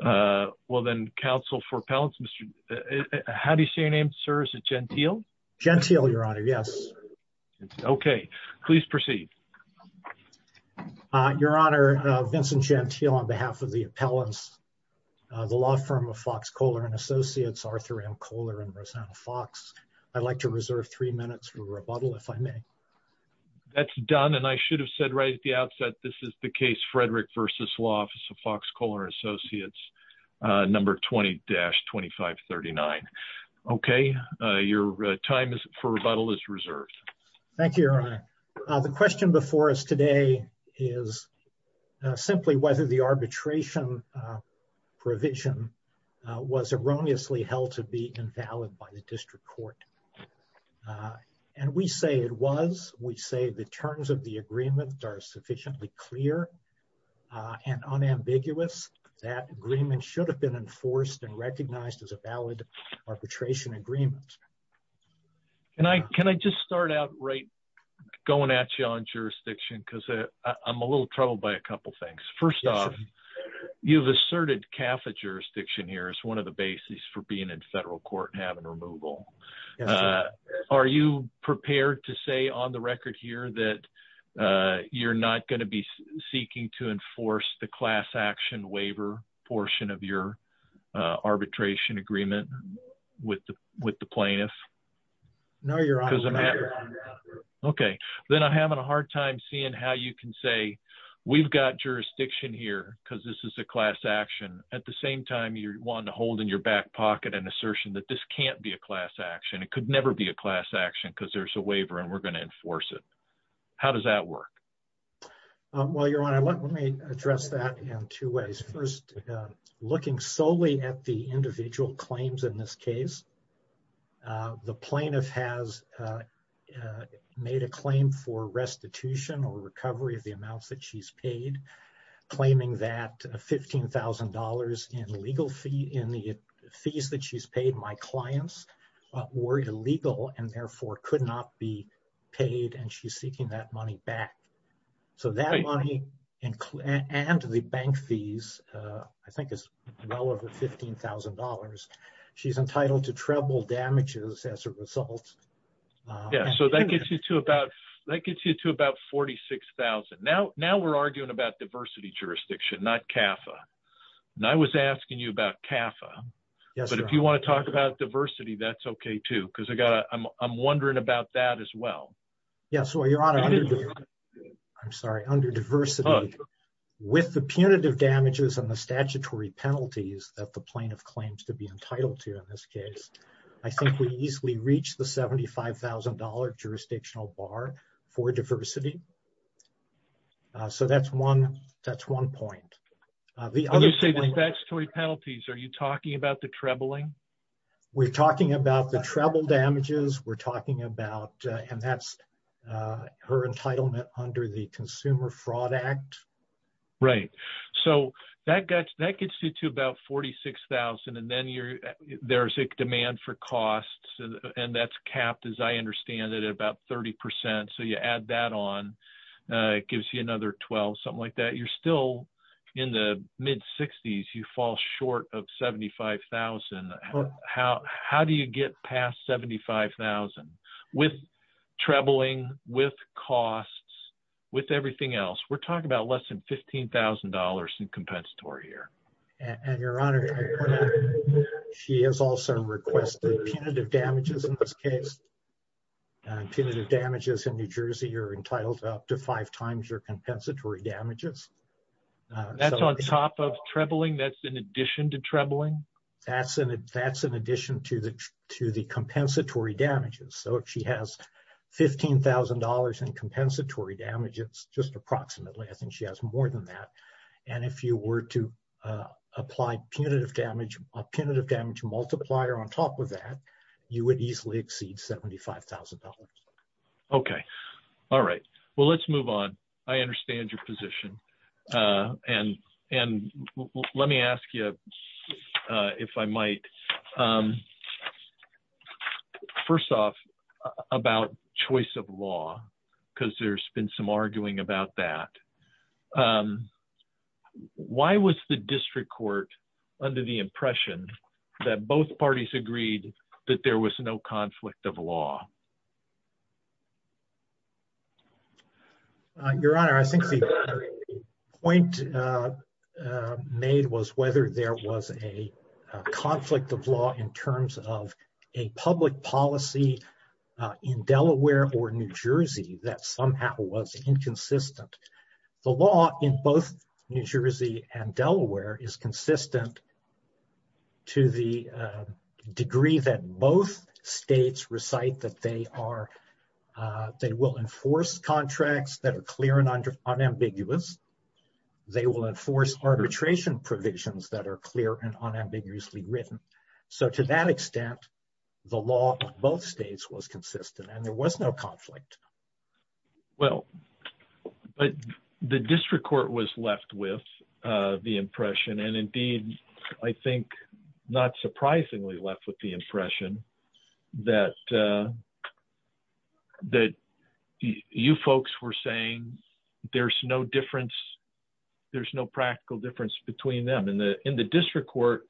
and Associates, Arthur M. Kohler, and Rosanna Fox. I'd like to reserve three minutes for rebuttal if I may. That's done and I should have said right at the outset this is the number 20-2539. Okay, your time for rebuttal is reserved. Thank you, Your Honor. The question before us today is simply whether the arbitration provision was erroneously held to be invalid by the district court. And we say it was. We say the terms of the agreement are sufficiently clear and unambiguous. That agreement should have been enforced and recognized as a valid arbitration agreement. Can I just start out right going at you on jurisdiction because I'm a little troubled by a couple things. First off, you've asserted CAFA jurisdiction here as one of the bases for being in federal court and having removal. Are you prepared to say on the record that you're not going to be seeking to enforce the class action waiver portion of your arbitration agreement with the plaintiff? No, Your Honor. Okay, then I'm having a hard time seeing how you can say we've got jurisdiction here because this is a class action at the same time you're wanting to hold in your back pocket an assertion that this can't be a class action. It could never be a class action because there's a waiver and we're going to enforce it. How does that work? Well, Your Honor, let me address that in two ways. First, looking solely at the individual claims in this case, the plaintiff has made a claim for restitution or recovery of the amounts that she's paid, claiming that $15,000 in the fees that she's clients were illegal and therefore could not be paid and she's seeking that money back. So that money and the bank fees, I think is well over $15,000. She's entitled to treble damages as a result. Yeah, so that gets you to about 46,000. Now we're arguing about diversity jurisdiction, not CAFA, and I was asking you about CAFA, but if you want to talk about diversity, that's okay too because I'm wondering about that as well. Yeah, so Your Honor, I'm sorry, under diversity with the punitive damages and the statutory penalties that the plaintiff claims to be entitled to in this case, I think we easily reach the $75,000 jurisdictional bar for diversity. So that's one point. When you say the statutory penalties, are you talking about the trebling? We're talking about the treble damages. We're talking about, and that's her entitlement under the Consumer Fraud Act. Right. So that gets you to about 46,000 and then there's a demand for costs and that's capped, as I understand it, at about 30%. So you add that on, it gives you another 12, something like that. You're still in the mid-60s. You fall short of 75,000. How do you get past 75,000 with trebling, with costs, with everything else? We're talking about less than $15,000 in compensatory here. And Your Honor, she has also requested punitive damages in this case. Punitive damages in New Jersey are entitled to up to five times your compensatory damages. That's on top of trebling? That's in addition to trebling? That's in addition to the compensatory damages. So if she has $15,000 in compensatory damages, just approximately, I think she has more than that. And if you were to apply a punitive damage multiplier on top of that, you would easily exceed $75,000. Okay. All right. Well, let's move on. I understand your position. And let me ask you, if I might, first off, about choice of law, because there's been some arguing about that. Why was the district court under the impression that both parties agreed that there was no conflict of law? Your Honor, I think the point made was whether there was a conflict of law in terms of a public policy in Delaware or New Jersey that somehow was inconsistent. The law in both New Jersey and Delaware is consistent to the degree that both states recite that they will enforce contracts that are clear and unambiguous. They will enforce arbitration provisions that are clear and unambiguously written. So to that extent, the law of both states was consistent and there was no conflict. Well, the district court was left with the impression, and indeed, I think not surprisingly left with the impression that you folks were saying there's no difference, there's no practical difference between them. In the district court,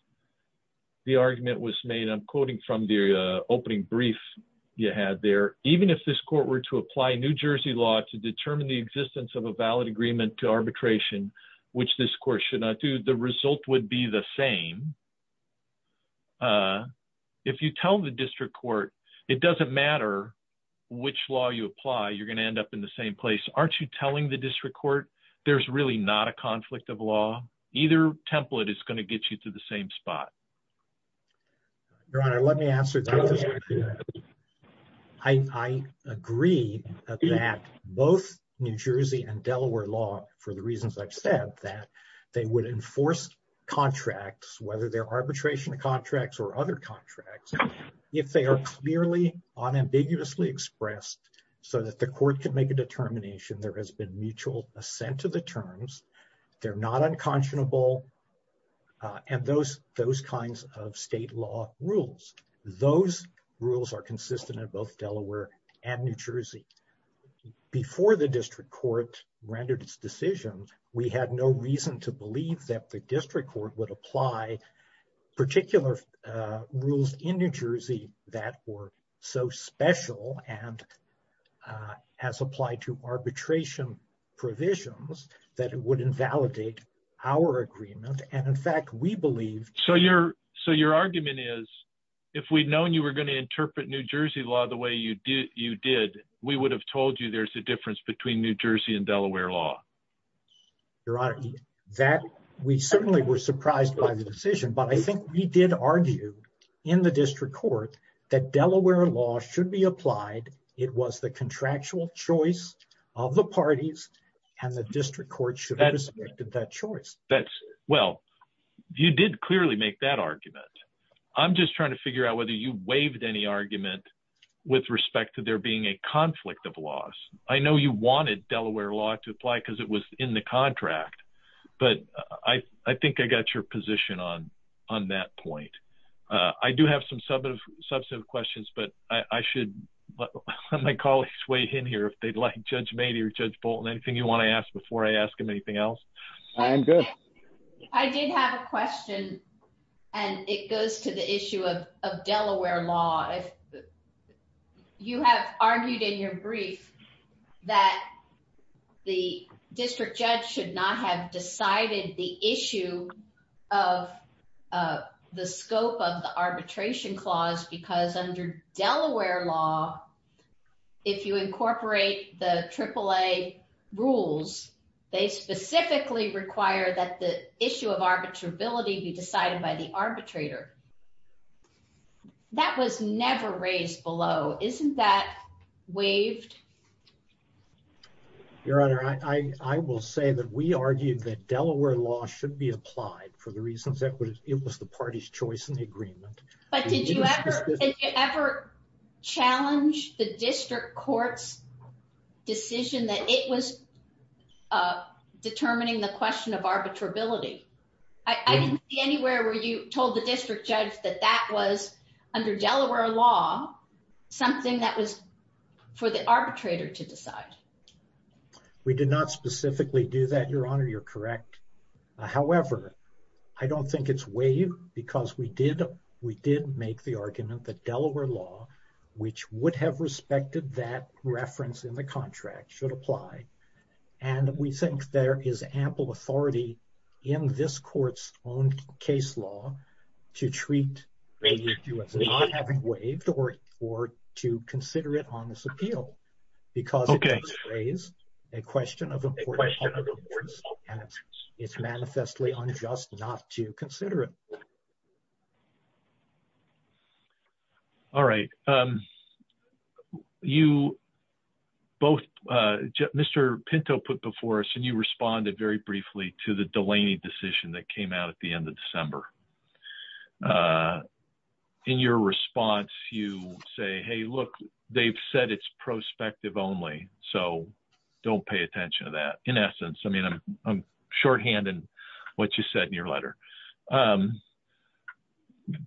the argument was made, from the opening brief you had there, even if this court were to apply New Jersey law to determine the existence of a valid agreement to arbitration, which this court should not do, the result would be the same. If you tell the district court it doesn't matter which law you apply, you're going to end up in the same place. Aren't you telling the district court there's really not a conflict of law? Either template is going to get you to the same spot. Your Honor, let me answer that. I agree that both New Jersey and Delaware law, for the reasons I've said, that they would enforce contracts, whether they're arbitration contracts or other contracts, if they are clearly unambiguously expressed so that the court can make a determination there has been mutual assent to the terms, they're not unconscionable, and those kinds of state law rules, those rules are consistent in both Delaware and New Jersey. Before the district court rendered its decision, we had no reason to believe that the district court would apply particular rules in New Jersey that were so special and has applied to arbitration provisions that it would invalidate our agreement. And in fact, we believe... So your argument is if we'd known you were going to interpret New Jersey law the way you did, we would have told you there's a difference between New Jersey and Delaware law. Your Honor, that we certainly were surprised by the decision, but I think we did argue in the district court that Delaware law should be applied, it was the contractual choice of the parties, and the district court should have respected that choice. That's... Well, you did clearly make that argument. I'm just trying to figure out whether you waived any argument with respect to there being a conflict of laws. I know you wanted Delaware law to apply because it was in the contract, but I think I got your position on that point. I do have some substantive questions, but I should let my colleagues weigh in here, if they'd like. Judge Mady or Judge Bolton, anything you want to ask before I ask him anything else? I'm good. I did have a question, and it goes to the issue of Delaware law. If you have argued in your brief that the district judge should not have decided the issue of the scope of the arbitration clause, because under Delaware law, if you incorporate the AAA rules, they specifically require that the issue of arbitrability be decided by the arbitrator. That was never raised below. Isn't that waived? Your Honor, I will say that we argued that Delaware law should be applied for the reasons that it was the party's choice in the agreement. But did you ever challenge the district court's decision that it was determining the question of that that was, under Delaware law, something that was for the arbitrator to decide? We did not specifically do that, Your Honor. You're correct. However, I don't think it's waived because we did make the argument that Delaware law, which would have respected that reference in the contract, should apply. And we think there is ample authority in this court's case law to treat it as not having waived or to consider it on this appeal, because it does raise a question of importance, and it's manifestly unjust not to consider it. All right. Mr. Pinto put before us, and you responded very briefly to the Delaney decision that came out at the end of December. In your response, you say, hey, look, they've said it's prospective only, so don't pay attention to that. In essence, I mean, I'm shorthanding what you said in your letter.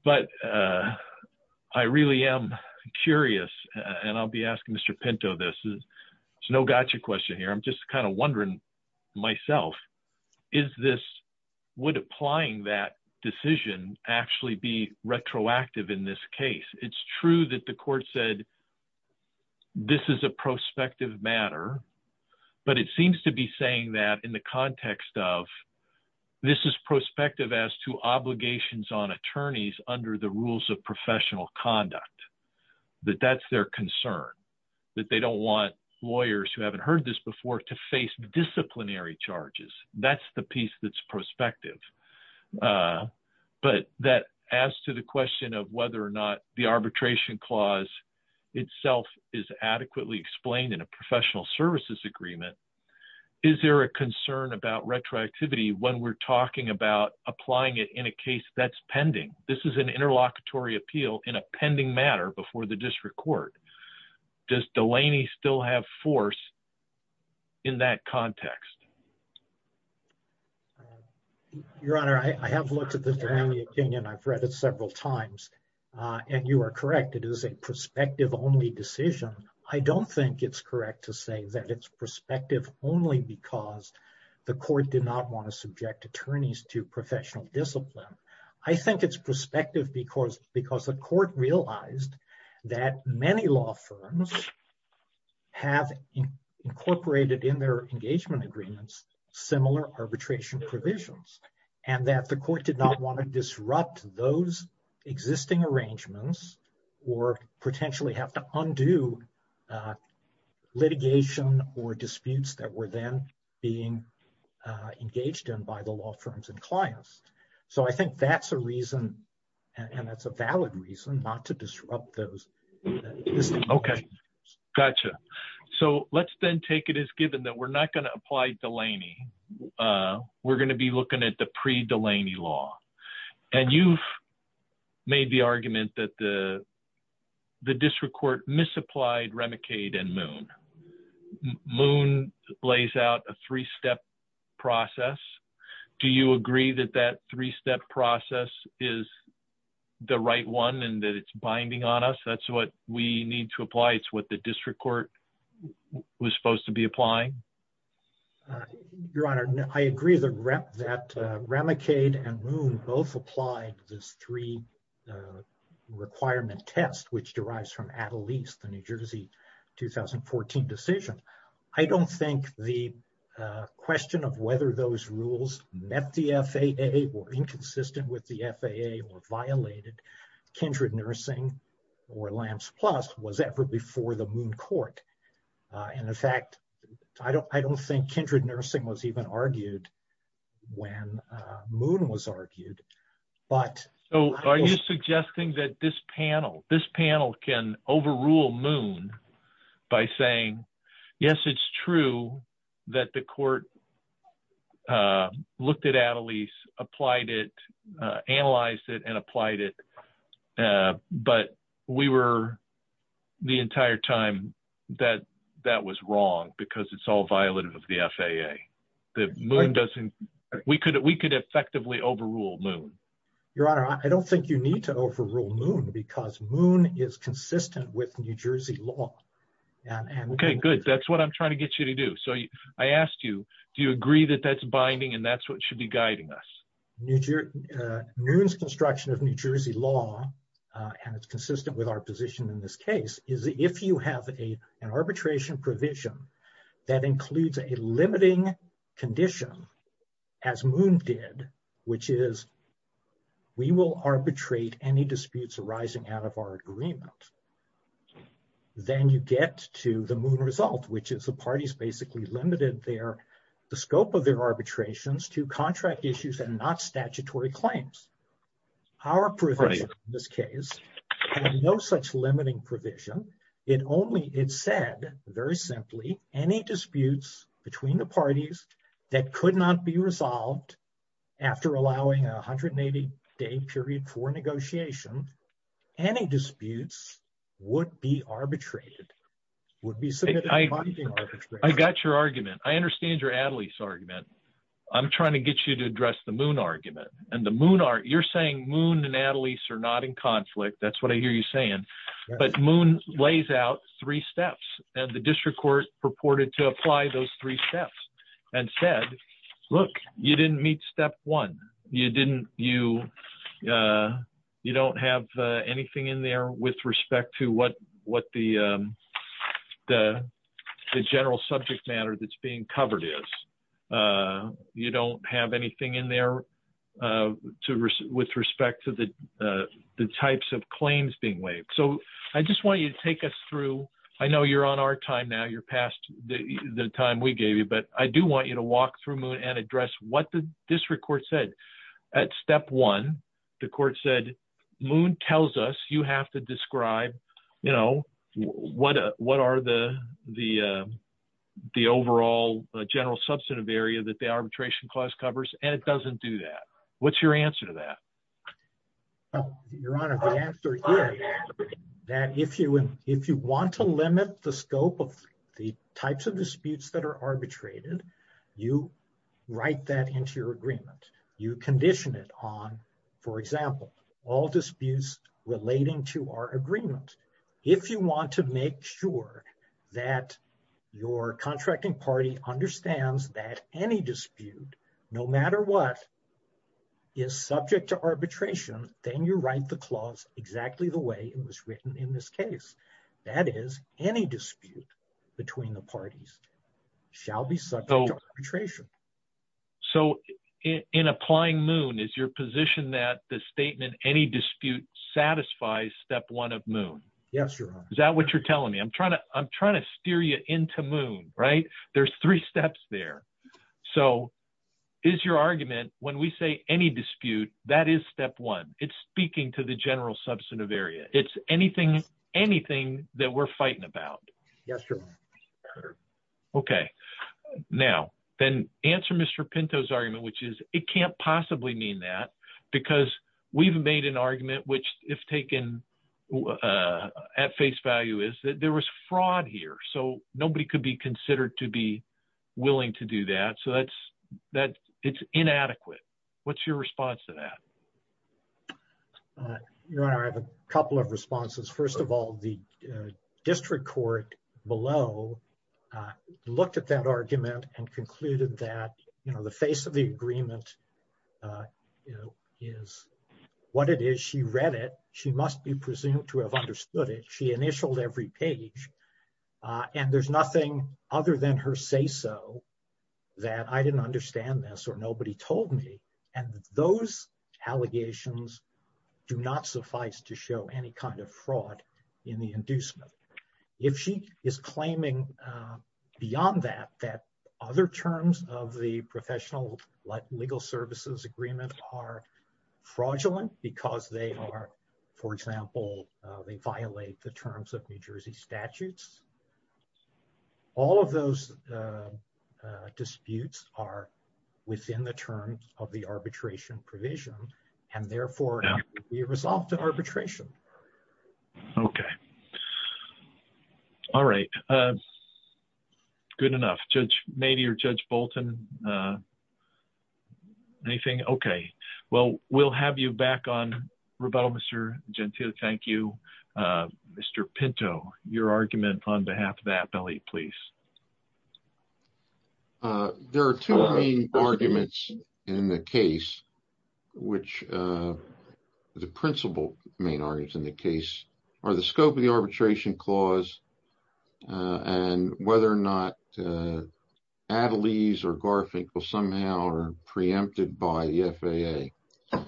But I really am curious, and I'll be asking Mr. Pinto this. It's no gotcha question here. I'm just kind of wondering myself, is this, would applying that decision actually be retroactive in this case? It's true that the court said this is a prospective matter, but it seems to be saying that in the context of this is prospective as to obligations on attorneys under the rules of professional conduct, that that's their concern, that they don't want lawyers who haven't heard this before to face disciplinary charges. That's the piece that's prospective. But as to the question of whether or not the arbitration clause itself is adequately explained in a professional services agreement, is there a concern about retroactivity when we're talking about applying it in a case that's before the district court? Does Delaney still have force in that context? Your Honor, I have looked at the Delaney opinion. I've read it several times, and you are correct. It is a prospective only decision. I don't think it's correct to say that it's prospective only because the court did not want to subject attorneys to professional discipline. I think it's prospective because the court realized that many law firms have incorporated in their engagement agreements similar arbitration provisions, and that the court did not want to disrupt those existing arrangements or potentially have to undo litigation or disputes that were then being engaged in by the law firms and clients. I think that's a reason, and that's a valid reason, not to disrupt those. Okay. Gotcha. Let's then take it as given that we're not going to apply Delaney. We're going to be looking at the pre-Delaney law. You've made the argument that the district court misapplied Remicade and Moon. Moon lays out a three-step process. Do you agree that that three-step process is the right one and that it's binding on us? That's what we need to apply. It's what the district court was supposed to be applying? Your Honor, I agree that Remicade and Moon both applied this three-requirement test, which derives from Attleese, the New Jersey 2014 decision. I don't think the question of whether those rules met the FAA or inconsistent with the FAA or violated Kindred Nursing or LAMS Plus was ever before the Moon court. In fact, I don't think Kindred Nursing was even argued when Moon was argued. Are you suggesting that this panel can overrule Moon by saying, yes, it's true that the court looked at Attleese, applied it, analyzed it, and applied it, but the entire time, that was wrong because it's all violative of the FAA? We could effectively overrule Moon. Your Honor, I don't think you need to overrule Moon because Moon is consistent with New Jersey law. Okay, good. That's what I'm trying to get you to do. I asked you, do you agree that that's binding and that's what should be guiding us? Moon's construction of New Jersey law, and it's consistent with our position in this case, is if you have an arbitration provision that includes a limiting condition, as Moon did, which is we will arbitrate any disputes arising out of our agreement, then you get to the Moon result, which is the parties basically limited the scope of their arbitrations to contract issues and not statutory claims. Our provision in this case had no such limiting provision. It only said, very simply, any disputes between the parties that could not be resolved after allowing a 180-day period for negotiation, any disputes would be arbitrated. I got your argument. I understand your Adelaide's argument. I'm trying to get you to address the Moon argument. You're saying Moon and Adelaide are not in conflict. That's what I hear you saying, but Moon lays out three steps and the district court purported to apply those three steps and said, look, you didn't meet step one. You don't have anything in there with respect to what the general subject matter that's being covered is. You don't have anything in there with respect to the types of claims being waived. I just want you to take us through, I know you're on our time now, you're past the time we gave you, but I do want you to walk through Moon and address what the district court said. At step one, the court said, Moon tells us you have to describe what are the overall general substantive area that the arbitration clause covers and it doesn't do that. What's your answer to that? Your Honor, the answer is that if you want to limit the scope of the types of disputes that are arbitrated, you write that into your agreement. You condition it on, for example, all disputes relating to our agreement. If you want to make sure that your contracting party understands that any dispute, no matter what, is subject to arbitration, then you write the clause exactly the way it was written in this case. That is, any dispute between the parties shall be subject to arbitration. So in applying Moon, is your position that the statement any dispute satisfies step one of Moon? Yes, Your Honor. Is that what you're telling me? I'm trying to steer you into Moon, right? There's three steps there. So is your argument, when we say any dispute, that is step one. It's speaking to the general substantive area. It's anything, anything that we're fighting about. Yes, Your Honor. Okay, now then answer Mr. Pinto's argument, which is it can't possibly mean that because we've made an argument, which if taken at face value, is that there was fraud here. So nobody could be considered to be willing to do that. So that's, that it's inadequate. What's your response to that? Your Honor, I have a couple of responses. First of all, the district court below looked at that argument and concluded that, you know, the face of the agreement, you know, is what it is. She read it. She must be presumed to have understood it. She initialed every page. And there's nothing other than her say-so that I didn't understand this or nobody told me. And those allegations do not suffice to show any kind of fraud in the inducement. If she is claiming beyond that, that other terms of the professional legal services agreement are fraudulent, because they are, for example, they violate the terms of New Jersey statutes. All of those disputes are within the terms of the arbitration provision, and therefore, it would be a result of arbitration. Okay. All right. Good enough. Judge Mabee or Judge Bolton? Anything? Okay. Well, we'll have you back on rebuttal, Mr. Gentile. Thank you. Mr. Pinto, your argument on behalf of the appellee, please. There are two main arguments in the case, which the principal main arguments in the case are the scope of the arbitration clause and whether or not Attlees or Garfinkel somehow are preempted by the FAA.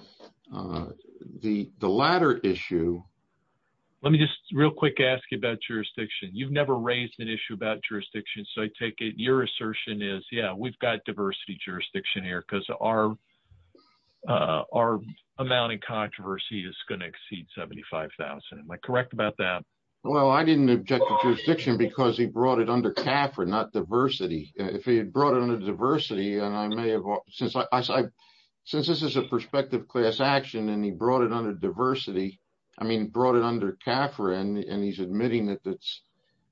The latter issue— Let me just real quick ask you about jurisdiction. You've never raised an issue about jurisdiction, so I take it your assertion is, yeah, we've got diversity jurisdiction here because our amount in controversy is going to exceed $75,000. Am I correct about that? Well, I didn't object to jurisdiction because he brought it under and I may have— Since this is a prospective class action and he brought it under diversity, I mean, brought it under CAFRA and he's admitting that it's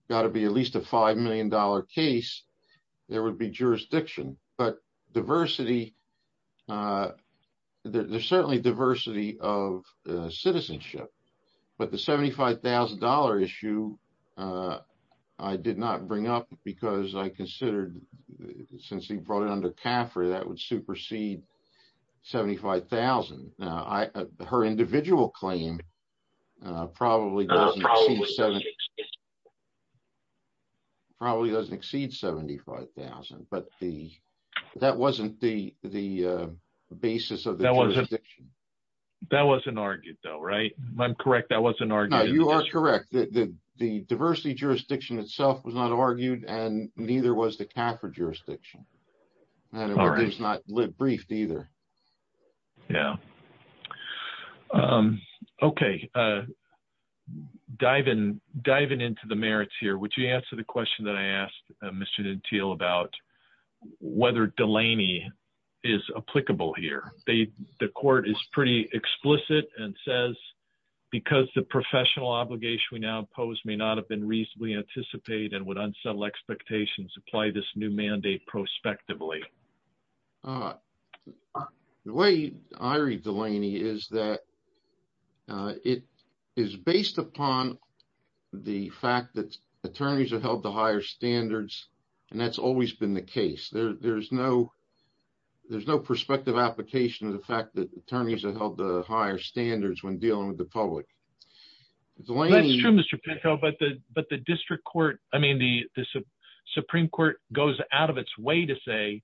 got to be at least a $5 million case, there would be jurisdiction, but diversity— There's certainly diversity of citizenship, but the $75,000 issue, I did not bring up because I considered, since he brought it under CAFRA, that would supersede $75,000. Her individual claim probably doesn't exceed $75,000, but that wasn't the basis of the jurisdiction. That wasn't argued though, right? If I'm correct, that wasn't argued? No, you are correct. The diversity jurisdiction itself was not argued and neither was the CAFRA jurisdiction. All right. And it was not briefed either. Yeah. Okay. Diving into the merits here, would you answer the question that I asked Mr. Denteel about whether Delaney is applicable here? The court is pretty explicit and says, because the professional obligation we now impose may not have been reasonably anticipated and would unsettle expectations, apply this new mandate prospectively. The way I read Delaney is that it is based upon the fact that attorneys are held to higher standards, and that's always been the case. There's no perspective application of the fact that attorneys are held to higher standards when dealing with the public. That's true, Mr. Petko, but the Supreme Court goes out of its way to say,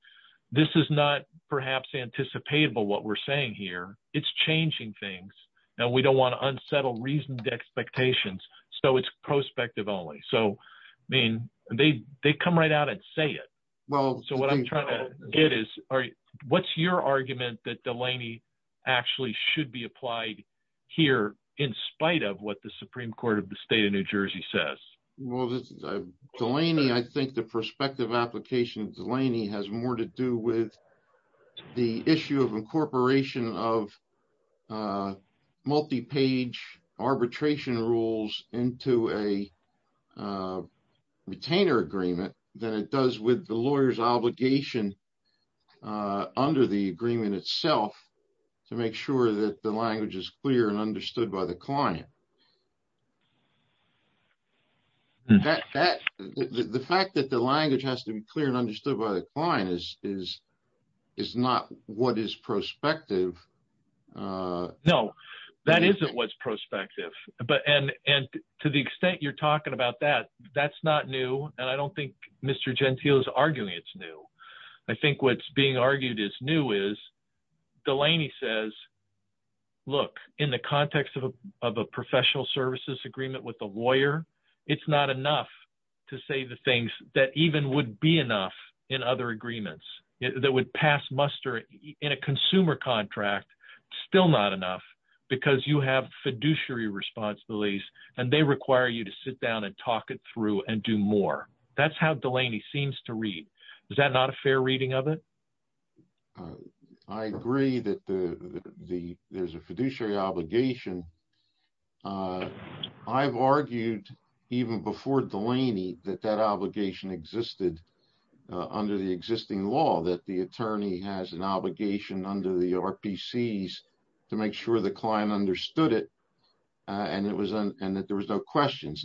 this is not perhaps anticipatable, what we're saying here. It's changing things and we don't want to unsettle reasoned expectations, so it's prospective only. They come right out and say it. So what I'm trying to get is, what's your argument that Delaney actually should be applied here in spite of what the Supreme Court of the state of New Jersey says? I think the prospective application of Delaney has more to do with the issue of incorporation of multi-page arbitration rules into a retainer agreement than it does with the lawyer's obligation under the agreement itself to make sure that the language is clear and understood by the client. The fact that the language has to be clear and understood by the client is not what is prospective. No, that isn't what's prospective, and to the extent you're talking about that, that's not new, and I don't think Mr. Gentile is arguing it's new. I think what's being argued is new is Delaney says, look, in the context of a professional services agreement with the lawyer, it's not enough to say the things that even would be enough in other agreements, that would pass muster in a consumer contract, still not enough because you have fiduciary responsibilities and they require you to sit down and talk it through and do more. That's how Delaney seems to read. Is that not a fair reading of it? I agree that there's a fiduciary obligation. I've argued even before Delaney that that the attorney has an obligation under the RPCs to make sure the client understood it and that there was no questions.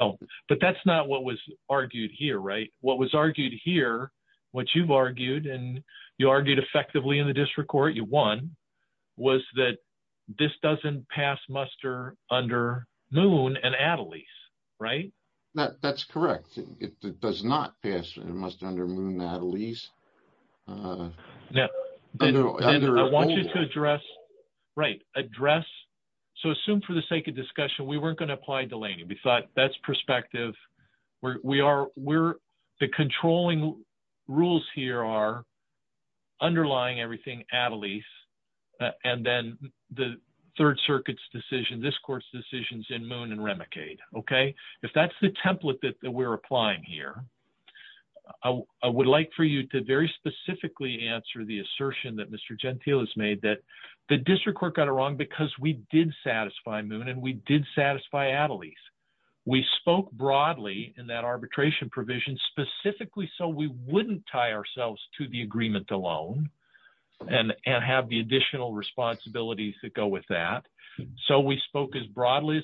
That's not what was argued here. What was argued here, what you've argued and you argued effectively in the district court, you won, was that this doesn't pass muster under Moon and Adelaide. Right? That's correct. It does not pass muster under Moon and Adelaide. I want you to address, assume for the sake of discussion, we weren't going to apply Delaney. The controlling rules here are underlying everything Adelaide and then the third decision, this court's decision is in Moon and Remicade. If that's the template we're applying here, I would like for you to very specifically answer the assertion that Mr. Gentile has made that the district court got it wrong because we did satisfy Moon and we did satisfy Adelaide. We spoke broadly in that arbitration provision specifically so we wouldn't tie ourselves to the agreement alone and have the additional responsibilities that go with that. So we spoke as broadly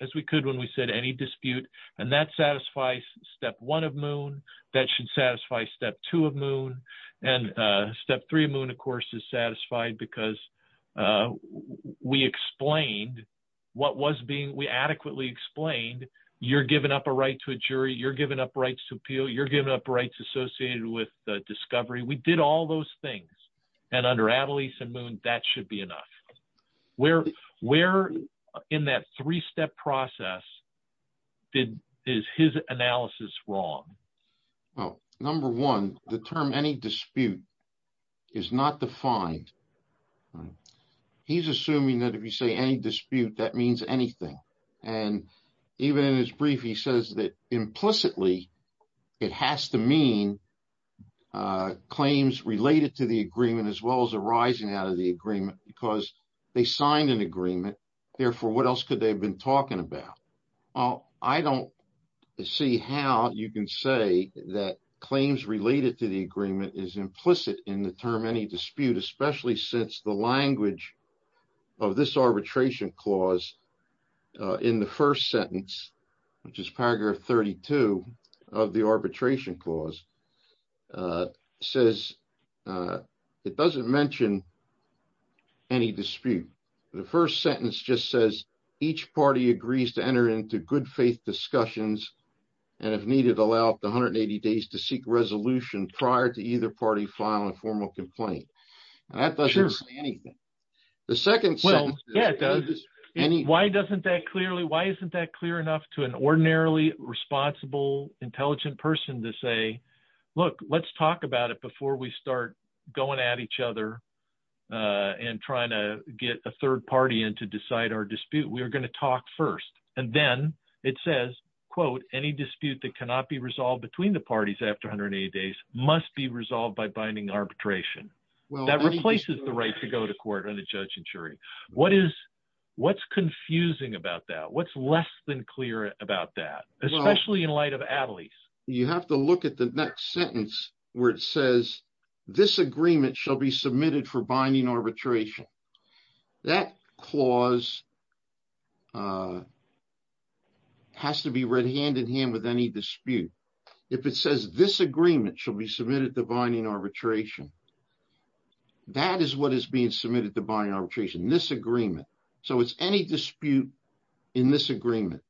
as we could when we said any dispute and that satisfies step one of Moon, that should satisfy step two of Moon and step three of Moon of course is satisfied because we explained what was being, we adequately explained you're giving up a right to a jury, you're giving up rights to discovery. We did all those things and under Adelaide and Moon that should be enough. Where in that three-step process is his analysis wrong? Well, number one, the term any dispute is not defined. He's assuming that if you say any dispute that means anything and even in his brief he says that implicitly it has to mean claims related to the agreement as well as arising out of the agreement because they signed an agreement, therefore what else could they have been talking about? Well, I don't see how you can say that claims related to the agreement is implicit in the term any dispute especially since the language of this arbitration clause in the first sentence which is paragraph 32 of the arbitration clause says it doesn't mention any dispute. The first sentence just says each party agrees to enter into good faith discussions and if needed allow up to 180 days to seek resolution prior to either party filing a formal complaint. That doesn't say anything. The second sentence... Why doesn't that clearly, why isn't that clear enough to an ordinarily responsible intelligent person to say look let's talk about it before we start going at each other and trying to get a third party in to decide our dispute. We are going to talk first and then it says quote any dispute that cannot be resolved between the parties after 180 days must be resolved by binding arbitration. That replaces the right to go to court and a judge and jury. What is, what's confusing about that? What's less than clear about that? Especially in light of Attlee's. You have to look at the next sentence where it says this agreement shall be submitted for binding arbitration. That clause has to be read hand in hand with any dispute. If it says this agreement shall be submitted to binding arbitration, that is what is being submitted to binding arbitration, this agreement. So it's any dispute in this agreement.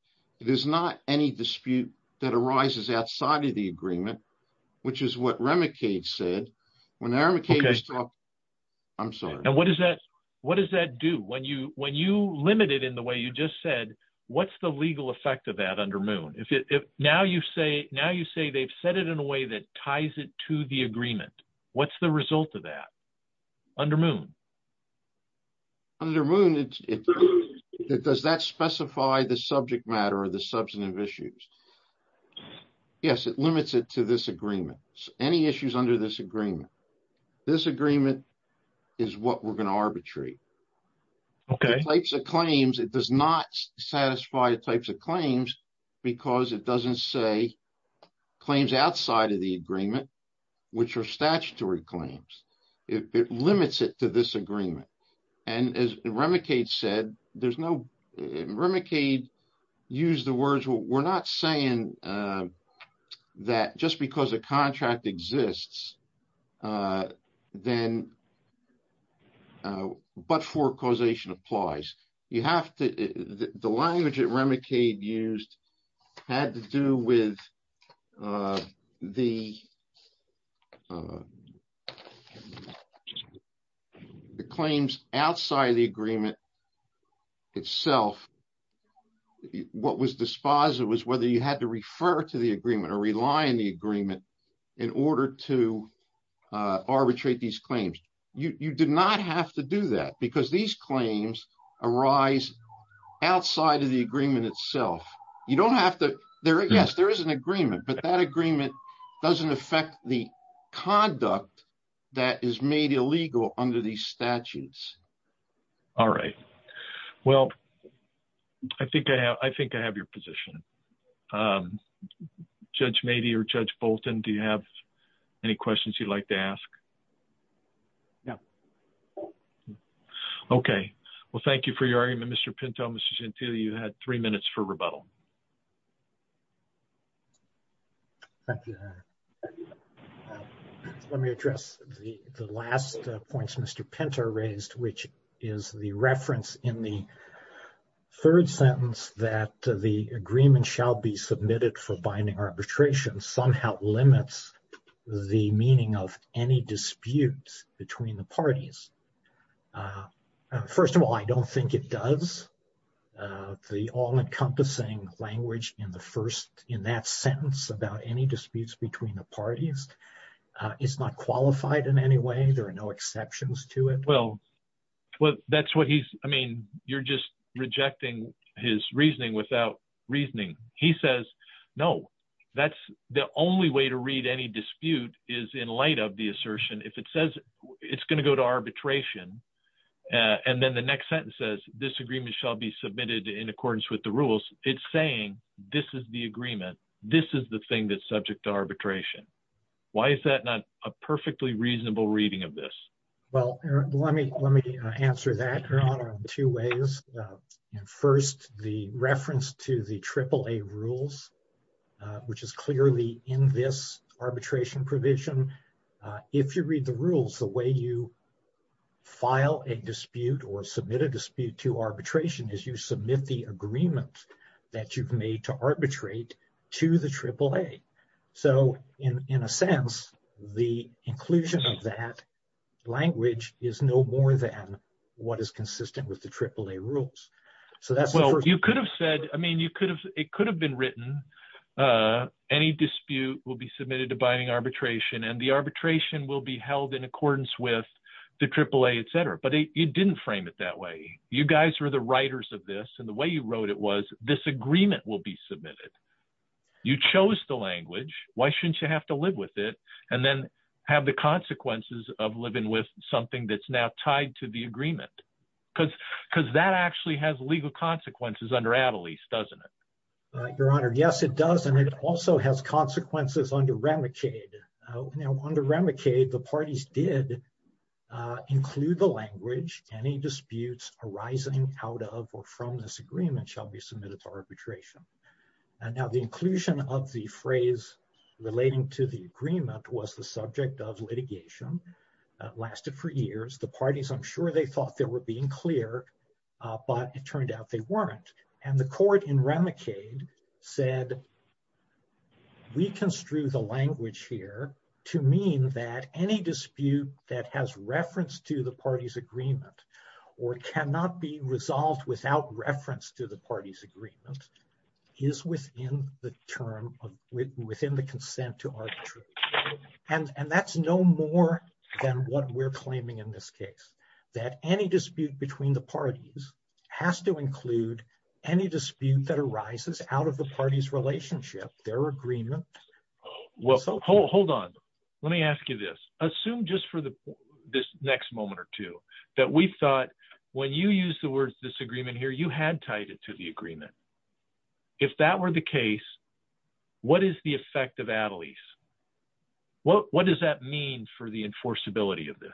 It is not any dispute that arises outside of the agreement which is what Remicade said. What does that do? When you limit it in the way you just said, what's the legal effect of that under Moon? Now you say they've said it in a way that ties it to the agreement. What's the result of that under Moon? Under Moon, does that specify the subject matter or the substantive issues? Yes, it limits it to this agreement. Any issues under this agreement, this agreement is what we're going to arbitrate. The types of claims, it does not satisfy the types of claims because it doesn't say claims outside of the agreement, which are statutory claims. It limits it to this agreement. And as Remicade said, there's no, Remicade used the words, we're not saying that just because a contract exists then but-for causation applies. You have to, the language that Remicade used had to do with the agreement itself. What was dispositive was whether you had to refer to the agreement or rely on the agreement in order to arbitrate these claims. You did not have to do that because these claims arise outside of the agreement itself. You don't have to, yes, there is an agreement, but that agreement doesn't affect the conduct that is made illegal under these statutes. All right. Well, I think I have your position. Judge Mady or Judge Bolton, do you have any questions you'd like to ask? No. Okay. Well, thank you for your argument, Mr. Pinto. Mr. Gentile, you had three minutes for rebuttal. Thank you. Let me address the last points Mr. Pinto raised, which is the reference in the third sentence that the agreement shall be submitted for binding arbitration somehow limits the meaning of any disputes between the parties. First of all, I don't think it does. The all-encompassing language in the first, in that sentence about any disputes between the parties is not qualified in any way. There are no exceptions to it. Well, that's what he's, I mean, you're just rejecting his reasoning without reasoning. He says, no, that's the only way to read any dispute is in light of the assertion. If it says it's going to go to arbitration and then the next sentence says this agreement shall be submitted in accordance with the rules, it's saying this is the agreement. This is the thing that's subject to arbitration. Why is that not a perfectly reasonable reading of this? Well, let me answer that, Your Honor, in two ways. First, the reference to the AAA rules, which is clearly in this arbitration provision. If you read the rules, the way you file a dispute or submit a dispute to arbitration is you submit the agreement that you've made to arbitrate to the AAA. So in a sense, the inclusion of that language is no more than what is consistent with the AAA rules. So that's what you could have said. I mean, you could have it could have been written. Any dispute will be submitted to binding arbitration and the arbitration will be held in accordance with the AAA, et cetera. But you didn't frame it that way. You guys were the writers of this. And the way you wrote it was this agreement will be submitted. You chose the language. Why shouldn't you have to live with it and then have the consequences of living with something that's now tied to the agreement? Because that actually has legal consequences under Adelaide, doesn't it? Your Honor, yes, it does. And it also has consequences under Remicade. Under Remicade, the parties did include the language. Any disputes arising out of or from this agreement shall be submitted to arbitration. And now the inclusion of the phrase relating to the agreement was the subject of litigation that lasted for years. The parties, I'm sure they thought they were being clear, but it turned out they weren't. And the court in Remicade said, we construe the language here to mean that any dispute that has reference to the party's agreement or cannot be resolved without reference to the party's agreement is within the term of within the consent to arbitration. And that's no more than what we're claiming in this case, that any dispute between the parties has to include any dispute that arises out of the party's relationship, their agreement. Well, hold on. Let me ask you this. Assume just for the this next moment or two that we thought when you use the word disagreement here, you had tied it to the agreement. If that were the case, what is the effect of Adelaide? What does that mean for the enforceability of this?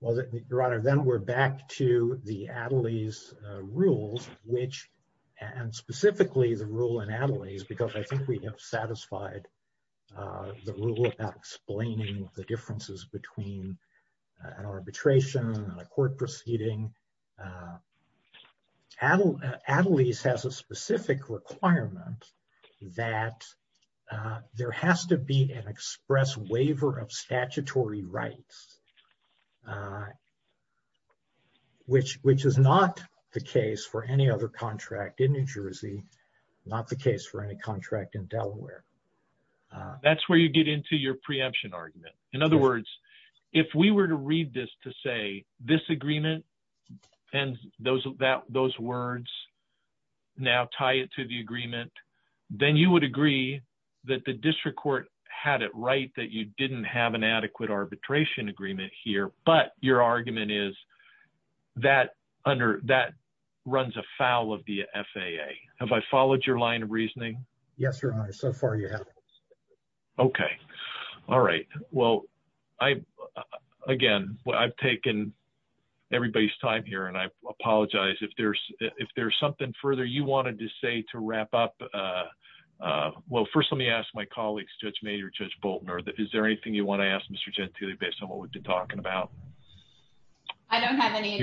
Well, Your Honor, then we're back to the Adelaide rules, which and specifically the rule in Adelaide is because I think we have satisfied the rule about explaining the differences between an arbitration and a court proceeding. Adelaide has a specific requirement that there has to be an express waiver of statutory rights, which is not the case for any other contract in New Jersey, not the case for any contract in Delaware. That's where you get into your preemption argument. In other words, if we were to read this to say disagreement and those words now tie it to the agreement, then you would agree that the district court had it right that you didn't have an adequate arbitration agreement here. But your argument is that under that runs afoul of the FAA. Have I followed your line of reasoning? Yes, Your Honor. So far, you have. Okay. All right. Well, I again, I've taken everybody's time here and I apologize if there's something further you wanted to say to wrap up. Well, first, let me ask my colleagues, Judge Mayer, Judge Bolton, or is there anything you want to ask Mr. Gentile based on what we've been talking about? I don't have any.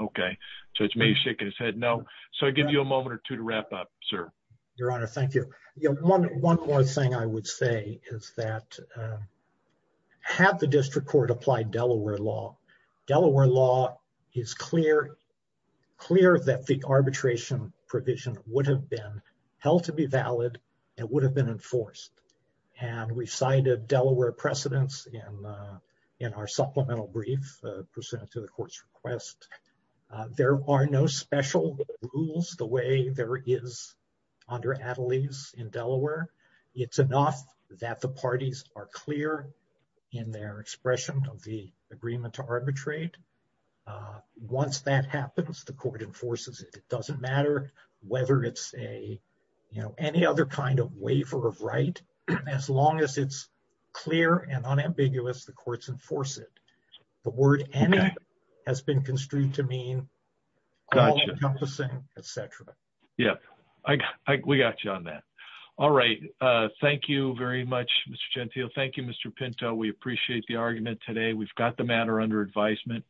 Okay. Judge Mayer shaking his head no. So I give you a moment or two to wrap up, sir. Your Honor, thank you. One more thing I would say is that had the district court applied Delaware law, Delaware law is clear that the arbitration provision would have been held to be valid and would have been enforced. And we cited Delaware precedents in our supplemental brief pursuant to the court's request. There are no special rules the way there is under Adelaide's in Delaware. It's enough that the parties are clear in their expression of the agreement to arbitrate. Once that happens, the court enforces it. It doesn't matter whether it's a, you know, any other kind of waiver of right, as long as it's clear and unambiguous, the courts enforce it. The word any has been Mr. Gentile. Thank you, Mr. Pinto. We appreciate the argument today. We've got the matter under advisement.